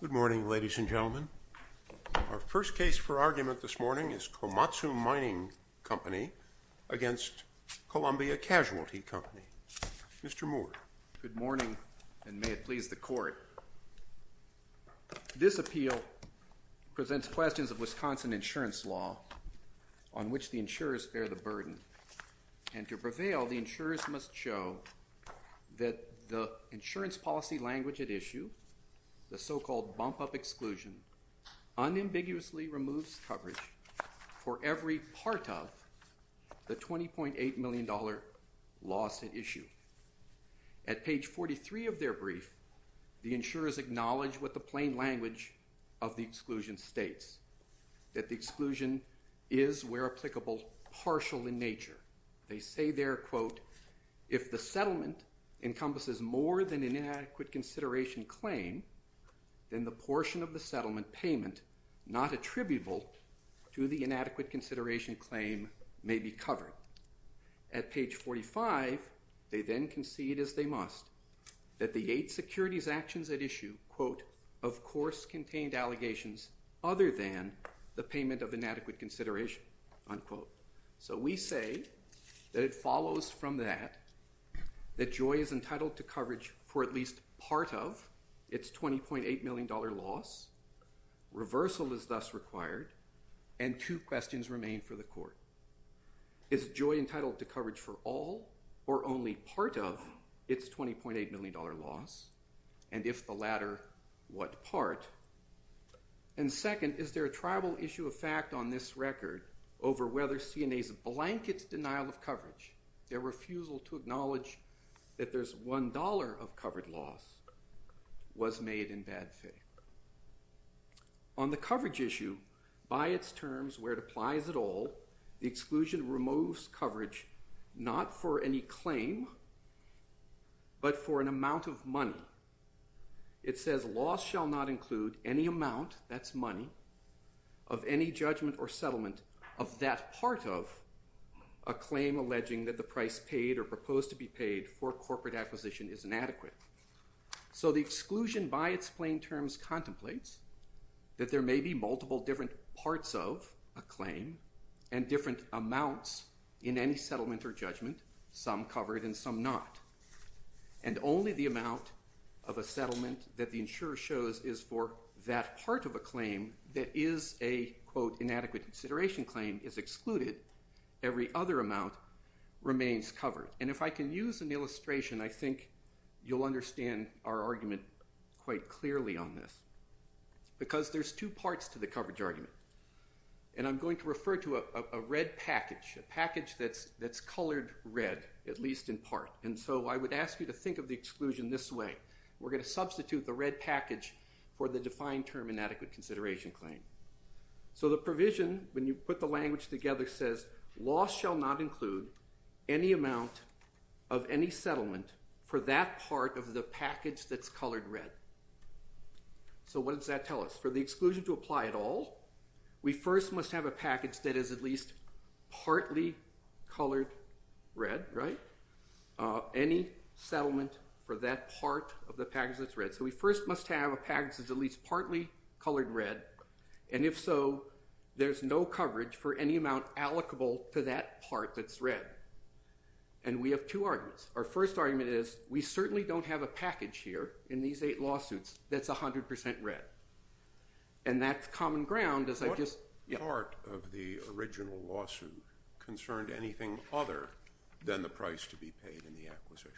Good morning, ladies and gentlemen. Our first case for argument this morning is Komatsu Mining Company v. Columbia Casualty Company. Mr. Moore. Good morning, and may it please the Court. This appeal presents questions of Wisconsin insurance law on which the insurers bear the burden. And to prevail, the insurers must show that the insurance policy language at issue, the so-called bump-up exclusion, unambiguously removes coverage for every part of the $20.8 million loss at issue. At page 43 of their brief, the insurers acknowledge what the plain language of the exclusion states, that the settlement encompasses more than an inadequate consideration claim, then the portion of the settlement payment not attributable to the inadequate consideration claim may be covered. At page 45, they then concede, as they must, that the eight securities actions at issue quote, of course contained allegations other than the payment of inadequate consideration, unquote. So we say that it follows from that that JOI is entitled to coverage for at least part of its $20.8 million loss. Reversal is thus required. And two questions remain for the Court. Is JOI entitled to coverage for all or only part of its $20.8 million loss? And if the latter, what part? And second, is there a tribal issue of fact on this record over whether CNA's blanket denial of coverage, their refusal to acknowledge that there's $1 of covered loss, was made in bad faith? On the coverage issue, by its terms where it applies at all, the exclusion removes coverage not for any claim, but for an amount of money alone. It says loss shall not include any amount, that's money, of any judgment or settlement of that part of a claim alleging that the price paid or proposed to be paid for corporate acquisition is inadequate. So the exclusion by its plain terms contemplates that there may be multiple different parts of a claim and different amounts in any settlement or judgment, some covered and some not. And only the amount of a settlement that the insurer shows is for that part of a claim that is a, quote, inadequate consideration claim is excluded, every other amount remains covered. And if I can use an illustration, I think you'll understand our argument quite clearly on this. Because there's two parts to the claim. There's the part that's colored red, at least in part. And so I would ask you to think of the exclusion this way. We're going to substitute the red package for the defined term inadequate consideration claim. So the provision, when you put the language together, says loss shall not include any amount of any settlement for that part of the package that's colored red. So what does that tell us? For the exclusion to apply at all, we first must have a package that is at least partly colored red, right? Any settlement for that part of the package that's red. So we first must have a package that's at least partly colored red. And if so, there's no coverage for any amount allocable to that part that's red. And we have two arguments. Our first argument is we certainly don't have a package here in these eight lawsuits that's 100% red. And that's common ground, as I've said. Was part of the original lawsuit concerned anything other than the price to be paid in the acquisition?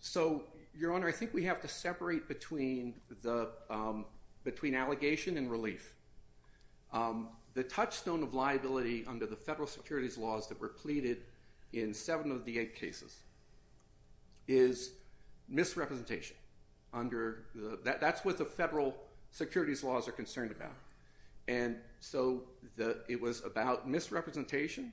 So Your Honor, I think we have to separate between allegation and relief. The touchstone of liability under the federal securities laws that were pleaded in seven of the eight cases is misrepresentation. That's what the federal securities laws are concerned about. And so it was about misrepresentation.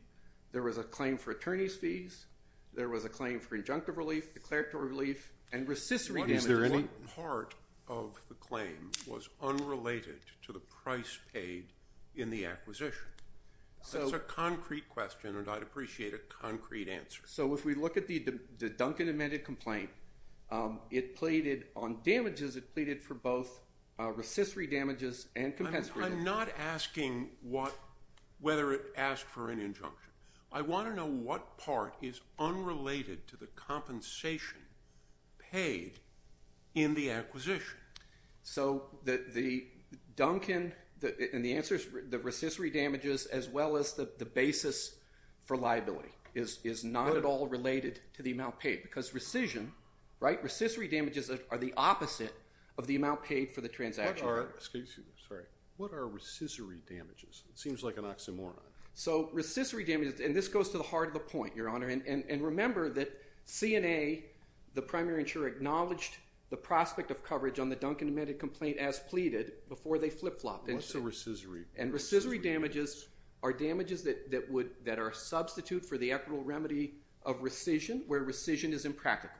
There was a claim for attorney's fees. There was a claim for injunctive relief, declaratory relief, and recissory damages. What is there any part of the claim was unrelated to the price paid in the acquisition? That's a concrete question, and I'd appreciate a concrete answer. So if we look at the Duncan amended complaint, it pleaded on damages. It pleaded for both recissory damages and compensatory damages. I'm not asking whether it asked for an injunction. I want to know what part is unrelated to the compensation paid in the acquisition. So the Duncan, and the answer is the recissory damages as well as the basis for liability is not at all related to the amount paid. Because recision, right, recissory damages are the opposite of the amount paid for the transaction. What are, excuse me, sorry, what are recissory damages? It seems like an oxymoron. So recissory damages, and this goes to the heart of the point, Your Honor, and remember that CNA, the primary insurer, acknowledged the prospect of coverage on the Duncan amended complaint as pleaded before they flip-flopped. What's a recissory? And recissory damages are damages that are a substitute for the equitable remedy of recision where recision is impractical.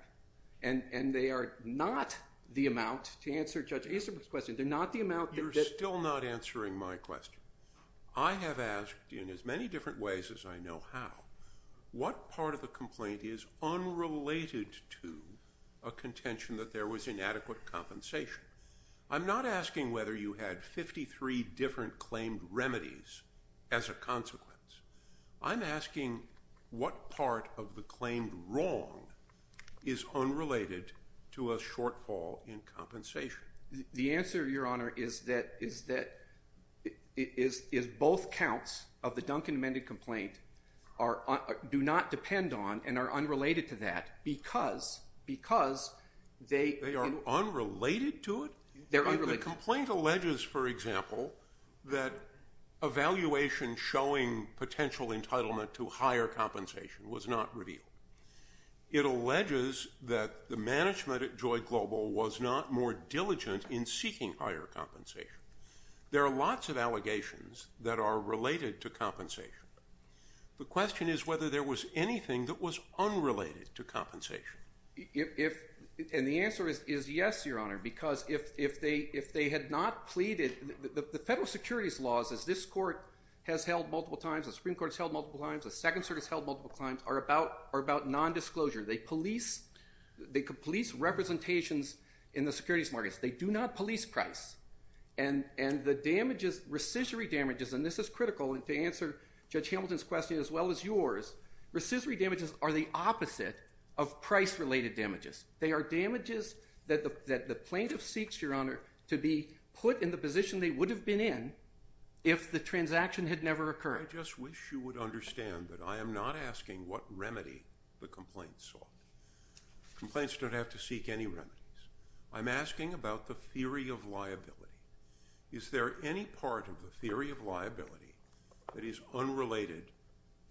And they are not the amount, to answer Judge Azenberg's question, they're not the amount that... You're still not answering my question. I have asked, in as many different ways as I know how, what part of the complaint is unrelated to a contention that there was inadequate compensation. I'm not asking whether you had 53 different claimed remedies as a consequence. I'm asking what part of the claimed wrong is unrelated to a shortfall in compensation. The answer, Your Honor, is that both counts of the Duncan amended complaint do not depend on and are unrelated to that because... They are unrelated to it? They're unrelated. The complaint alleges, for example, that evaluation showing potential entitlement to higher compensation was not revealed. It alleges that the management at Joy Global was not more diligent in seeking higher compensation. There are lots of allegations that are related to compensation. The question is whether there was anything that was unrelated to compensation. And the answer is yes, Your Honor, because if they had not pleaded... The federal securities laws, as this court has held multiple times, the Supreme Court has held multiple times, the Second Circuit has held multiple times, are about nondisclosure. They police representations in the securities markets. They do not police price. And the damages, rescissory damages, and this is critical to answer Judge Hamilton's question as well as yours, rescissory damages are the opposite of price-related damages. They are damages that the plaintiff seeks, Your Honor, to be put in the position they would have been in if the transaction had never occurred. I just wish you would understand that I am not asking what remedy the complaint sought. Complaints don't have to seek any remedies. I'm asking about the theory of liability. Is there any part of the theory of liability that is unrelated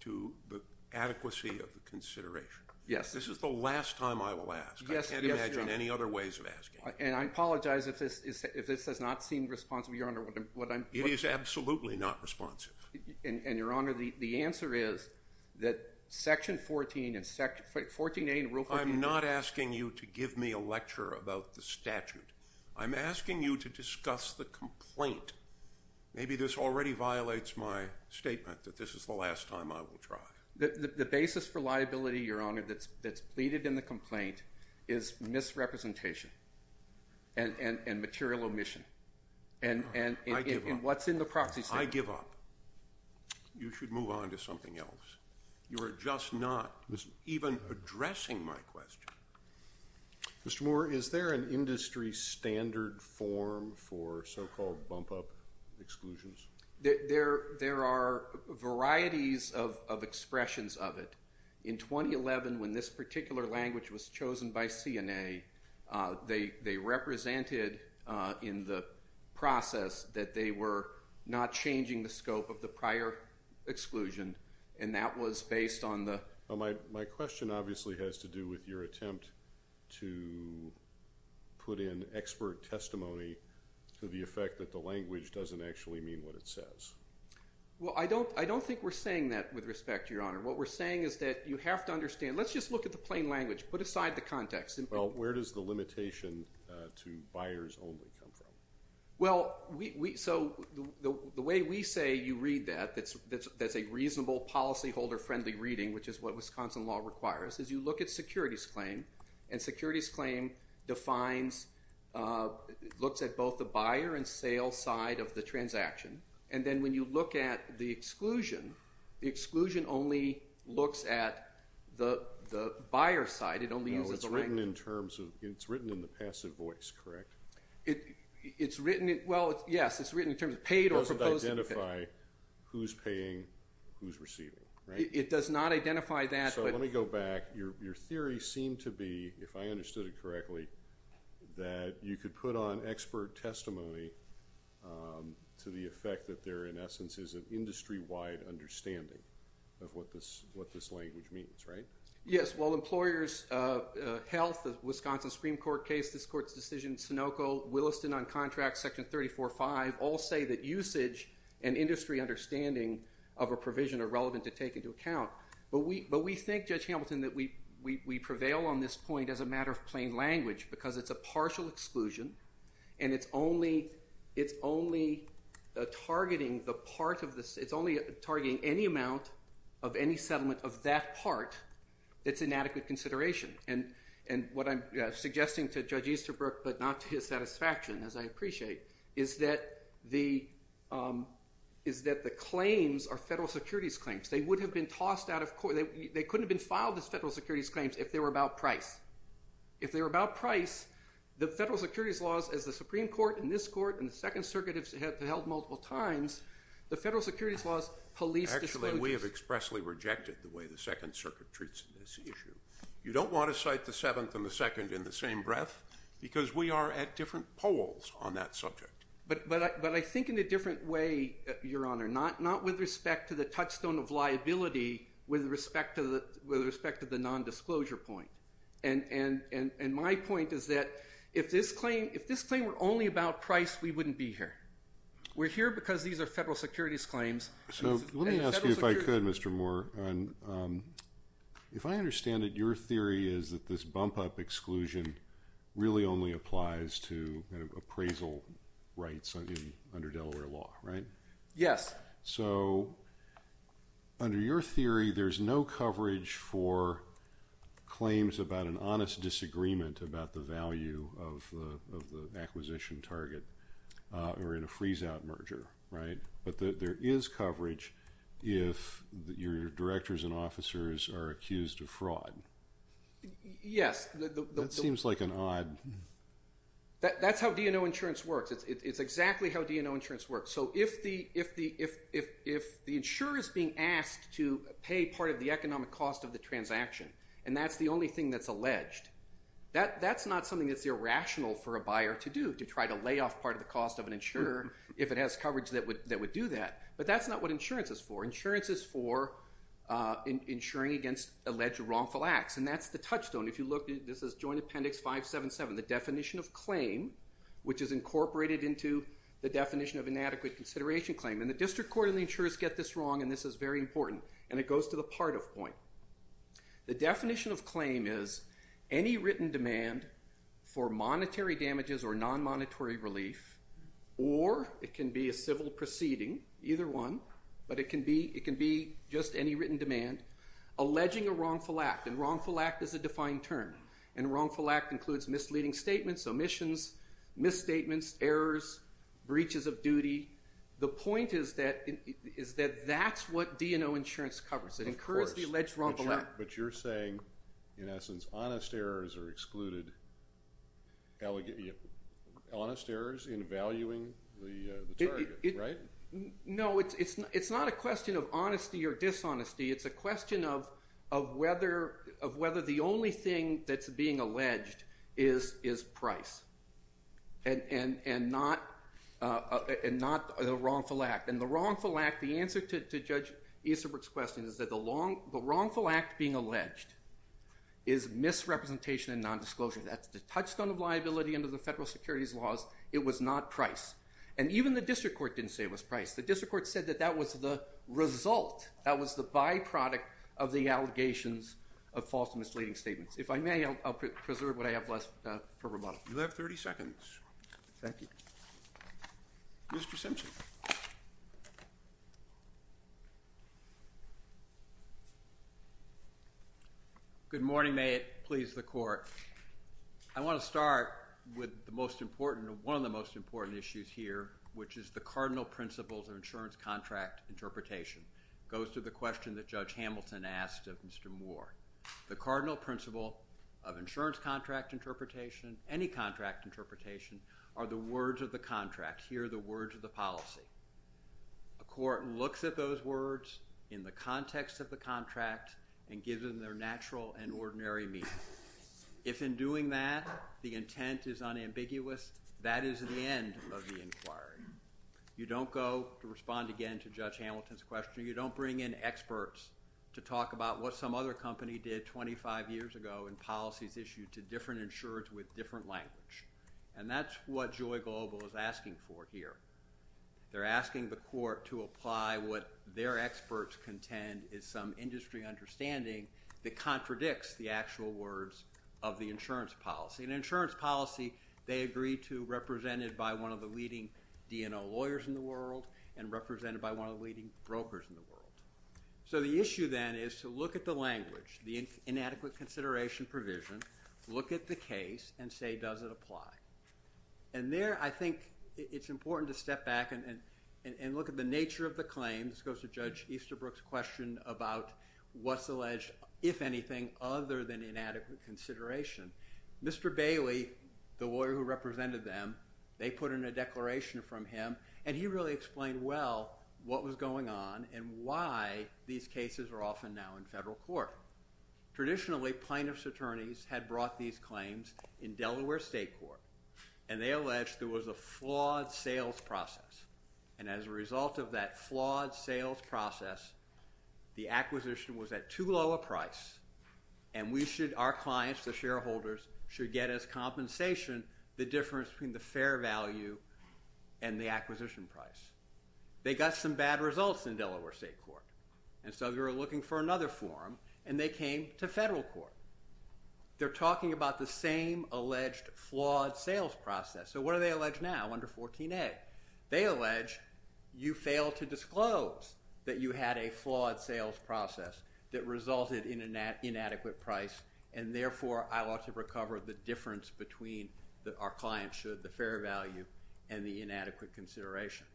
to the adequacy of the consideration? Yes. This is the last time I will ask. I can't imagine any other ways of asking. It is absolutely not responsive. And, Your Honor, the answer is that Section 14 and Section 14A in Rule 15... I'm not asking you to give me a lecture about the statute. I'm asking you to discuss the complaint. Maybe this already violates my statement that this is the last time I will try. The basis for liability, Your Honor, that's pleaded in the complaint is misrepresentation and material omission and what's in the proxy statement. I give up. You should move on to something else. You are just not even addressing my question. Mr. Moore, is there an industry standard form for so-called bump-up exclusions? There are varieties of expressions of it. In 2011, when this particular language was introduced, they represented in the process that they were not changing the scope of the prior exclusion, and that was based on the... My question obviously has to do with your attempt to put in expert testimony to the effect that the language doesn't actually mean what it says. I don't think we're saying that with respect, Your Honor. What we're saying is that you have to understand. Let's just look at the plain language. Put aside the context. Where does the limitation to buyers only come from? The way we say you read that, that's a reasonable policyholder-friendly reading, which is what Wisconsin law requires, is you look at securities claim, and securities claim looks at both the buyer and sale side of the transaction. Then when you look at the exclusion, the exclusion only looks at the buyer side. No, it's written in the passive voice, correct? It's written... Well, yes, it's written in terms of paid or proposed... It doesn't identify who's paying, who's receiving, right? It does not identify that, but... So let me go back. Your theory seemed to be, if I understood it correctly, that you could put on expert testimony to the effect that there, in essence, is an industry-wide understanding of what this language means, right? Yes, well, employers, health, the Wisconsin Supreme Court case, this court's decision, Sunoco, Williston on contract, section 34-5, all say that usage and industry understanding of a provision are relevant to take into account. But we think, Judge Hamilton, that we prevail on this point as a matter of plain language, because it's a partial exclusion, and it's only targeting the part of the... It's only targeting any amount of any settlement of that part that's in adequate consideration. And what I'm suggesting to Judge Easterbrook, but not to his satisfaction, as I appreciate, is that the claims are federal securities claims. They would have been tossed out of court... They couldn't have been filed as federal securities claims if they were about price. If they were about price, the federal Securities Court and this court and the Second Circuit have held multiple times, the federal securities laws police disclosures. Actually, we have expressly rejected the way the Second Circuit treats this issue. You don't want to cite the Seventh and the Second in the same breath, because we are at different polls on that subject. But I think in a different way, Your Honor, not with respect to the touchstone of liability, with respect to the non-disclosure point. And my point is that if this claim were only about price, we wouldn't be here. We're here because these are federal securities claims. So let me ask you if I could, Mr. Moore. If I understand it, your theory is that this bump-up exclusion really only applies to appraisal rights under Delaware law, right? Yes. So under your theory, there's no coverage for claims about an honest disagreement about the value of the acquisition target or in a freeze-out merger, right? But there is coverage if your directors and officers are accused of fraud. Yes. That seems like an odd... That's how DNO insurance works. It's exactly how DNO insurance works. So if the insurer is being asked to pay part of the economic cost of the transaction, and that's the only thing that's alleged, that's not something that's irrational for a buyer to do, to try to lay off part of the cost of an insurer if it has coverage that would do that. But that's not what insurance is for. Insurance is for insuring against alleged wrongful acts. And that's the touchstone. If you look, this is Joint Appendix 577, the definition of claim, which is incorporated into the definition of inadequate consideration claim. And the district court and the insurers get this wrong, and this is very important. And it goes to the part of point. The definition of claim is any written demand for monetary damages or non-monetary relief, or it can be a civil proceeding, either one, but it can be just any written demand, alleging a wrongful act. And wrongful act is a defined term. And wrongful act includes misleading statements, omissions, misstatements, errors, breaches of duty. The point is that that's what DNO insurance covers. It incurs the alleged wrongful act. But you're saying, in essence, honest errors are excluded. Honest errors in valuing the dishonesty, it's a question of whether the only thing that's being alleged is price and not a wrongful act. And the wrongful act, the answer to Judge Easterbrook's question, is that the wrongful act being alleged is misrepresentation and nondisclosure. That's the touchstone of liability under the federal securities laws. It was not price. And even the district court didn't say it was price. The district court said that that was the result, that was the byproduct of the allegations of false and misleading statements. If I may, I'll preserve what I have left for rebuttal. You have 30 seconds. Thank you. Mr. Simpson. Good morning. May it please the Court. I want to start with the most important, one of the most important issues here, which is the cardinal principles of insurance contract interpretation. It goes to the question that Judge Hamilton asked of Mr. Moore. The cardinal principle of insurance contract interpretation, any contract interpretation, are the words of the contract. Here are the words of the policy. A court looks at those words in the context of the contract and gives them their natural and ordinary meaning. If in doing that the intent is unambiguous, that is the end of the inquiry. You don't go to respond again to Judge Hamilton's question. You don't bring in experts to talk about what some other company did 25 years ago in policies issued to different insurers with different language. And that's what Joy Global is asking for here. They're asking the court to apply what their experts contend is some industry understanding that contradicts the actual words of the insurance policy. An insurance policy they agree to represented by one of the leading brokers in the world. So the issue then is to look at the language, the inadequate consideration provision, look at the case, and say does it apply. And there I think it's important to step back and look at the nature of the claim. This goes to Judge Easterbrook's question about what's alleged, if anything, other than inadequate consideration. Mr. Bailey, the lawyer who represented them, they put in a declaration from him and he really explained well what was going on and why these cases are often now in federal court. Traditionally plaintiff's attorneys had brought these claims in Delaware State Court and they alleged there was a flawed sales process. And as a result of that flawed sales process, the acquisition was at too low a price and we should, our clients, the shareholders, should get as compensation the difference between the fair value and the acquisition price. They got some bad results in Delaware State Court and so they were looking for another forum and they came to federal court. They're talking about the same alleged flawed sales process. So what are they alleged now under 14A? They allege you failed to disclose that you had a flawed sales process that our clients should, the fair value, and the inadequate consideration.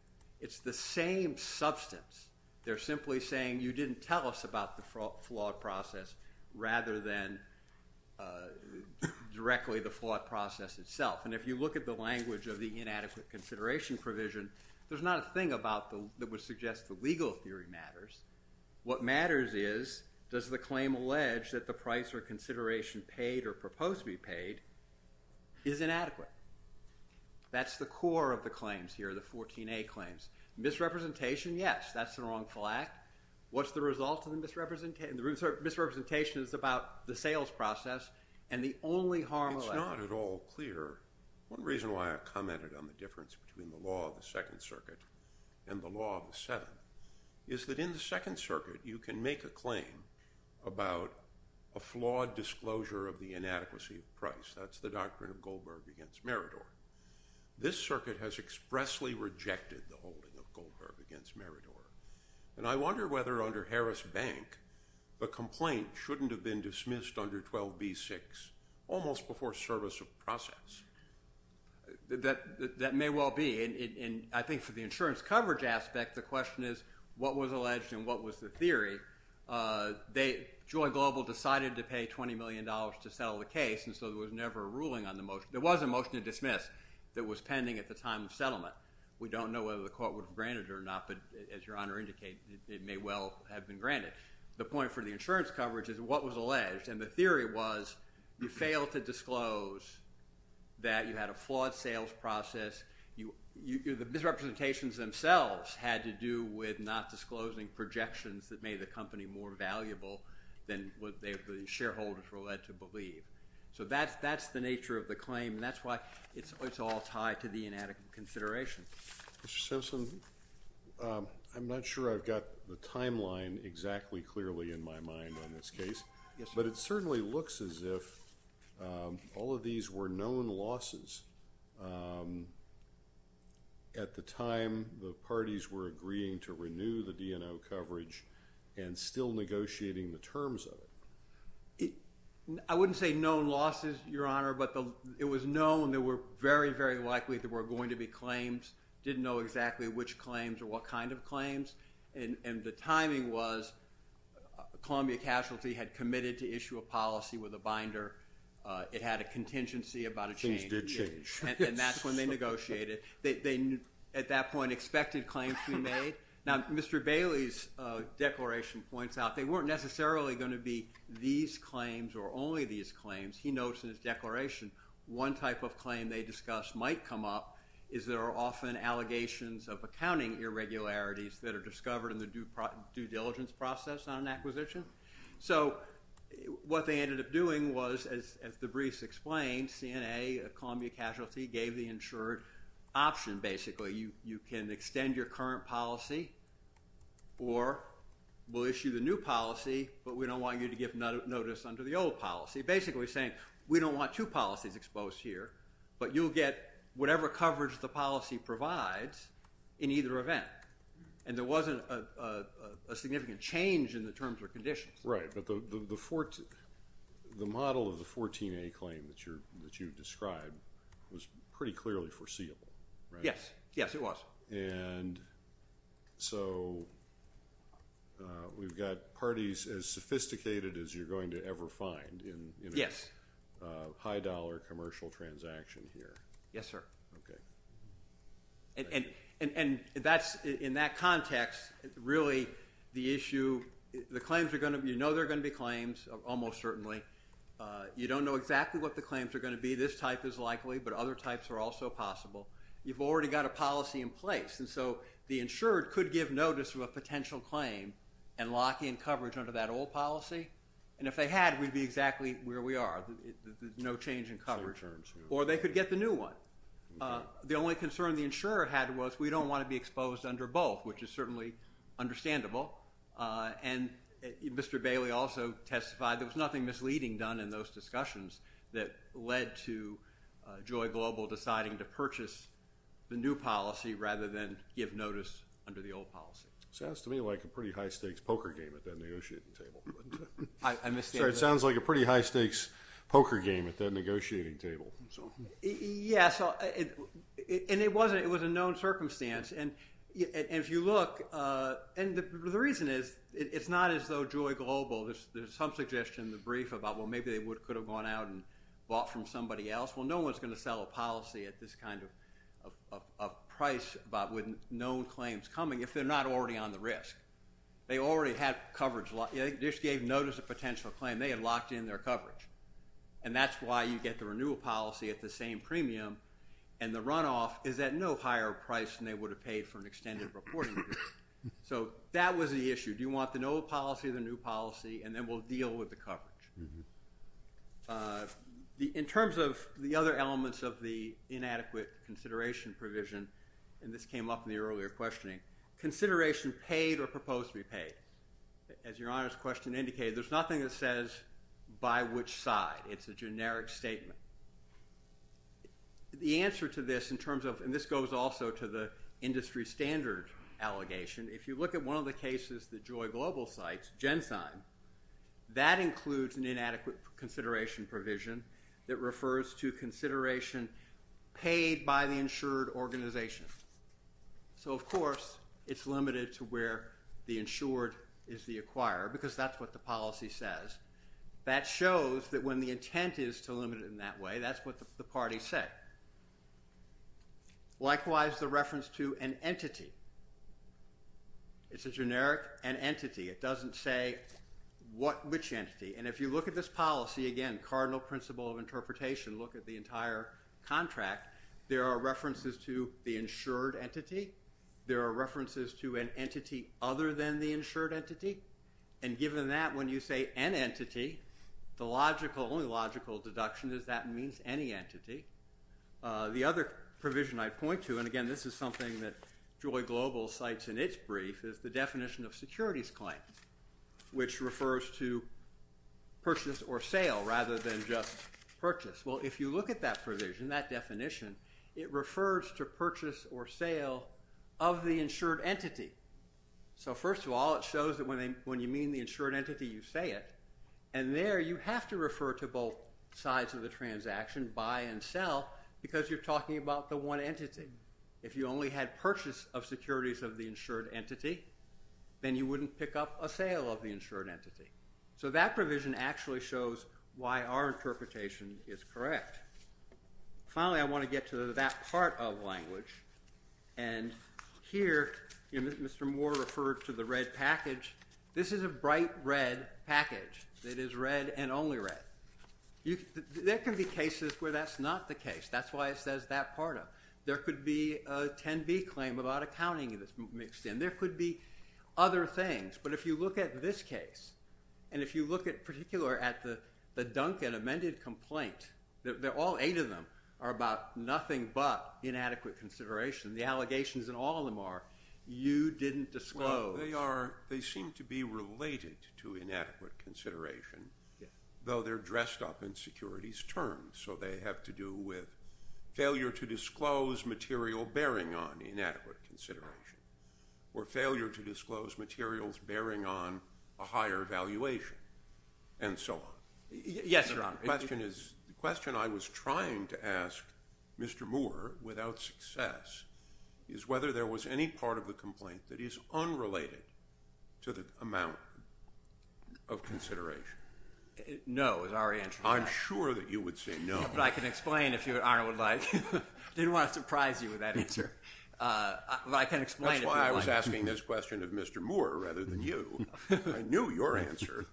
It's the same substance. They're simply saying you didn't tell us about the flawed process rather than directly the flawed process itself. And if you look at the language of the inadequate consideration provision, there's not a thing that would suggest the legal theory matters. What matters is does the claim allege that the price or consideration paid or proposed to be paid is inadequate. That's the core of the claims here, the 14A claims. Misrepresentation, yes, that's a wrongful act. What's the result of the misrepresentation? The misrepresentation is about the sales process and the only harm of that. It's not at all clear. One reason why I commented on the difference between the law of the Second Circuit and the law of the Seventh is that in the Second Circuit you can make a claim about a flawed disclosure of the inadequacy of price. That's the doctrine of Goldberg against Meridor. This circuit has expressly rejected the holding of Goldberg against Meridor. And I wonder whether under Harris Bank, the complaint shouldn't have been dismissed under 12b-6 almost before service of process. That may well be. And I think for the insurance coverage aspect, the question is what was they, Joy Global decided to pay $20 million to settle the case and so there was never a ruling on the motion. There was a motion to dismiss that was pending at the time of settlement. We don't know whether the court would have granted it or not, but as your Honor indicated, it may well have been granted. The point for the insurance coverage is what was alleged and the theory was you failed to disclose that you had a flawed sales process. The misrepresentations themselves had to do with not disclosing projections that made the company more valuable than what the shareholders were led to believe. So that's the nature of the claim and that's why it's all tied to the inadequate consideration. Mr. Simpson, I'm not sure I've got the timeline exactly clearly in my mind on this case, but it certainly looks as if all of these were known losses at the time the parties were agreeing to renew the DNO case. I wouldn't say known losses, your Honor, but it was known that we're very, very likely there were going to be claims. Didn't know exactly which claims or what kind of claims and the timing was Columbia Casualty had committed to issue a policy with a binder. It had a contingency about a change. And that's when they negotiated. They, at that point, expected claims to be made. Now, Mr. Bailey's declaration points out they weren't necessarily going to be these claims or only these claims. He notes in his declaration one type of claim they discussed might come up is there are often allegations of accounting irregularities that are discovered in the due diligence process on an acquisition. So what they ended up doing was, as the briefs explained, CNA, Columbia Casualty, gave the insured option, basically. You can extend your current policy or we'll issue the new policy, but we don't want you to give notice under the old policy. Basically saying we don't want two policies exposed here, but you'll get whatever coverage the policy provides in either event. And there wasn't a significant change in the terms or conditions. Right. But the model of the 14A claim that you described was pretty clearly foreseeable, right? Yes. Yes, it was. And so we've got parties as sophisticated as you're going to ever find in a high-dollar commercial transaction here. Yes, sir. And in that context, really the issue, the claims are going to be, you know they're going to be claims, almost certainly. You don't know exactly what the claims are going to be. Maybe this type is likely, but other types are also possible. You've already got a policy in place. And so the insured could give notice of a potential claim and lock in coverage under that old policy. And if they had, we'd be exactly where we are, no change in coverage. Or they could get the new one. The only concern the insurer had was we don't want to be exposed under both, which is certainly understandable. And Mr. Bailey also testified there was nothing misleading done in those discussions that led to Joy Global deciding to purchase the new policy rather than give notice under the old policy. Sounds to me like a pretty high-stakes poker game at that negotiating table. I misstated. Sorry, it sounds like a pretty high-stakes poker game at that negotiating table. Yes, and it was a known circumstance. And if you look, and the reason is it's not as though Joy Global, there's some suggestion in the brief about, well, maybe they could have gone out and bought from somebody else. Well, no one's going to sell a policy at this kind of price with known claims coming if they're not already on the risk. They already had coverage. They just gave notice of potential claim. They had locked in their coverage. And that's why you get the renewal policy at the same premium. And the runoff is at no higher price than they would have paid for an extended reporting period. So that was the issue. Do you want the old policy or the new policy? And then we'll deal with the coverage. In terms of the other elements of the inadequate consideration provision, and this came up in the earlier questioning, consideration paid or proposed to be paid. As Your Honor's question indicated, there's nothing that says by which side. It's a generic statement. The answer to this in terms of, and this goes also to the industry standard allegation, if you look at one of the cases that Joy Global cites, Gensign, that includes an inadequate consideration provision that refers to consideration paid by the insured is the acquirer. Because that's what the policy says. That shows that when the intent is to limit it in that way, that's what the party said. Likewise, the reference to an entity. It's a generic an entity. It doesn't say which entity. And if you look at this policy, again, cardinal principle of interpretation, look at the entire entity and the insured entity. And given that, when you say an entity, the logical, only logical deduction is that means any entity. The other provision I point to, and again, this is something that Joy Global cites in its brief, is the definition of securities claim, which refers to purchase or sale rather than just purchase. Well, if you look at that provision, that definition, it refers to purchase or sale of the insured entity. So first of all, it shows that when you mean the insured entity, you say it. And there you have to refer to both sides of the transaction, buy and sell, because you're talking about the one entity. If you only had purchase of securities of the insured entity, then you wouldn't pick up a sale of the insured entity. So that provision actually shows why our interpretation is correct. Finally, I want to get to that part of language. And here, Mr. Moore referred to the red package. This is a bright red package that is red and only red. There can be cases where that's not the case. That's why it says that part of it. There could be a lot of accounting that's mixed in. There could be other things. But if you look at this case, and if you look at particular at the Duncan amended complaint, all eight of them are about nothing but inadequate consideration. The allegations in all of them are, you didn't disclose. They seem to be related to inadequate consideration, though they're dressed up in or failure to disclose materials bearing on a higher valuation, and so on. Yes, Your Honor. The question I was trying to ask Mr. Moore without success is whether there was any part of the complaint that is unrelated to the amount of consideration. No, is our answer. I'm sure that you would say no. But I can explain if Your Honor would like. I didn't want to surprise you with that answer. But I can explain. That's why I was asking this question of Mr. Moore rather than you. I knew your answer.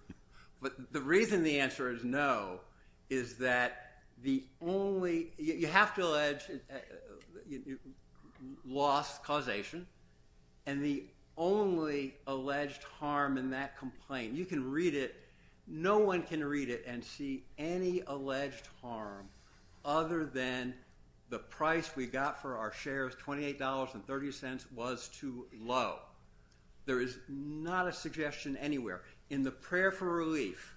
But the reason the answer is no is that the only, you have to allege lost causation, and the only alleged harm in that complaint, you can read it, no one can read it and see any alleged harm other than the price we got for our shares, $28.30, was too low. There is not a suggestion anywhere. In the prayer for relief,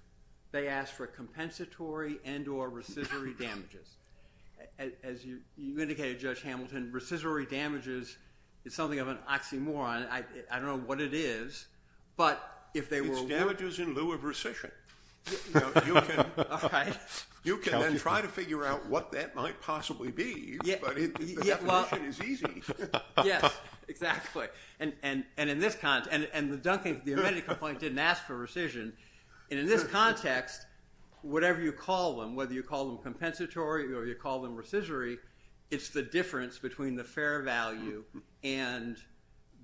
they asked for compensatory and or rescissory damages. As you indicated, Judge Hamilton, rescissory damages is something of an oxymoron. I don't know what it is, but if they were... It's damages in lieu of rescission. You can then try to figure out what that might possibly be, but the definition is easy. Yes, exactly. And the amended complaint didn't ask for rescission. And in this context, whatever you call them compensatory or you call them rescissory, it's the difference between the fair value and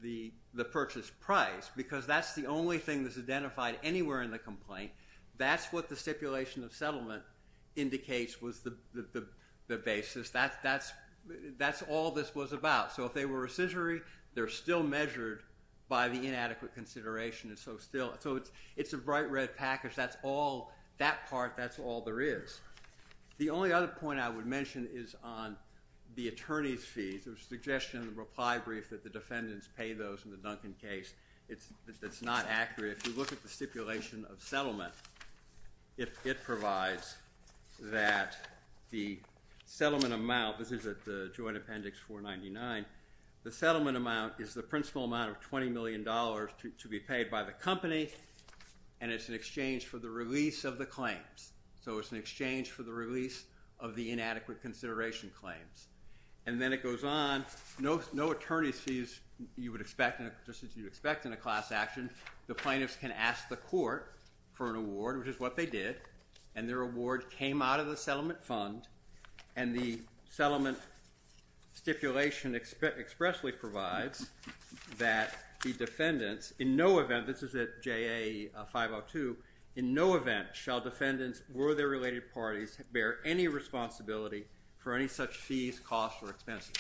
the purchase price, because that's the only thing that's identified anywhere in the complaint. That's what the stipulation of settlement indicates was the basis. That's all this was about. So if they were rescissory, they're still measured by the inadequate consideration. So it's a bright red package. That part, that's all there is. The only other point I would mention is on the attorney's fees. There was a suggestion in the reply brief that the defendants pay those in the Duncan case. That's not accurate. If you look at the stipulation of settlement, it provides that the settlement amount, this is at the Joint Appendix 499, the settlement amount is the principal amount of $20 million to be paid by the company, and it's in exchange for the release of the claims. So it's in exchange for the release of the inadequate consideration claims. And then it goes on. No attorney's fees, just as you would expect in a class action. The plaintiffs can ask the court for an award, which is what they did, and their award came out of the settlement fund, and the settlement stipulation expressly provides that the defendants, in no event, this is at JA 502, in no event shall defendants or their related parties bear any responsibility for any such fees, costs, or expenses.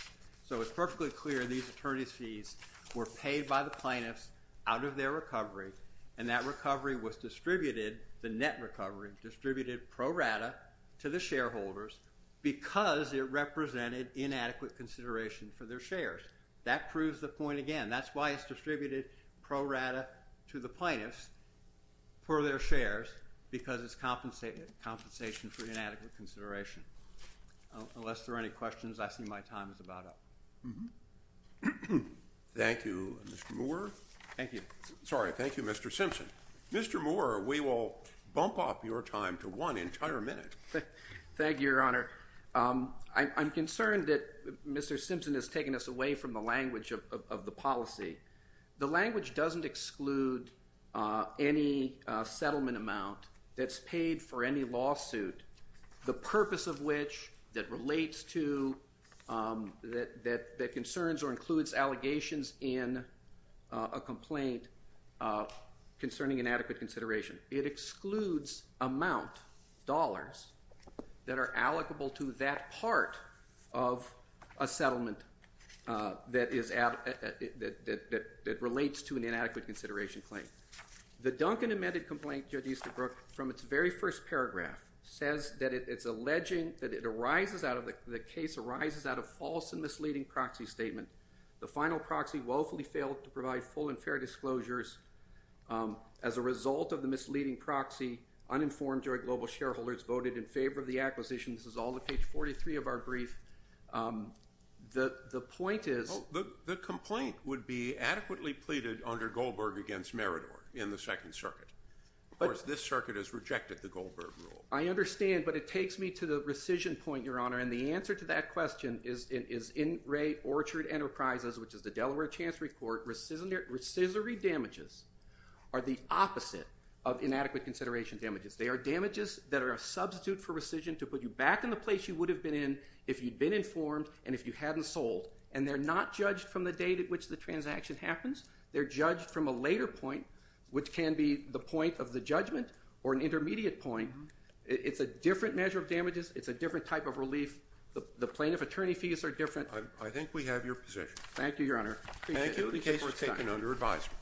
So it's perfectly clear these attorney's fees were paid by the plaintiffs out of their recovery, and that recovery was distributed, the net recovery, distributed pro rata to the shareholders because it represented inadequate consideration for their shares. That proves the point again. That's why it's distributed pro rata to the plaintiffs for their shares because it's compensation for inadequate consideration. Unless there are any questions, I see my time is about up. Thank you, Mr. Moore. Thank you. Sorry, thank you, Mr. Simpson. Mr. Moore, we will bump up your time to one entire minute. Thank you, Your Honor. I'm concerned that Mr. Simpson has taken us away from the language of the policy. The language doesn't exclude any settlement amount that's paid for any lawsuit, the purpose of which that relates to, that concerns or includes allegations in a complaint concerning inadequate consideration. It excludes amount, dollars, that are allocable to that part of a settlement that relates to an inadequate consideration claim. The Duncan amended complaint, Judge Easterbrook, from its very first paragraph, says that it's alleging that the case arises out of false and misleading proxy statement. The final proxy woefully failed to provide full and fair disclosures. As a result of the misleading proxy, uninformed joint global shareholders voted in favor of the acquisition. This is all of page 43 of our brief. The point is... The complaint would be adequately pleaded under Goldberg against Meridor in the Second Circuit. Of course, this circuit has rejected the Goldberg rule. I understand, but it takes me to the rescission point, Your Honor, and the answer to that question is in Ray Orchard Enterprises, which is the Delaware Chancery Court, rescissory damages are the opposite of inadequate consideration damages. They are damages that are a substitute for rescission to put you back in the place you would have been in if you'd been informed and if you hadn't sold. And they're not judged from the date at which the transaction happens. They're judged from a later point, which can be the point of the judgment or an intermediate point. It's a different measure of damages. It's a different type of relief. The plaintiff attorney fees are different. I think we have your position. Thank you, Your Honor. Thank you. The case is taken under advisement.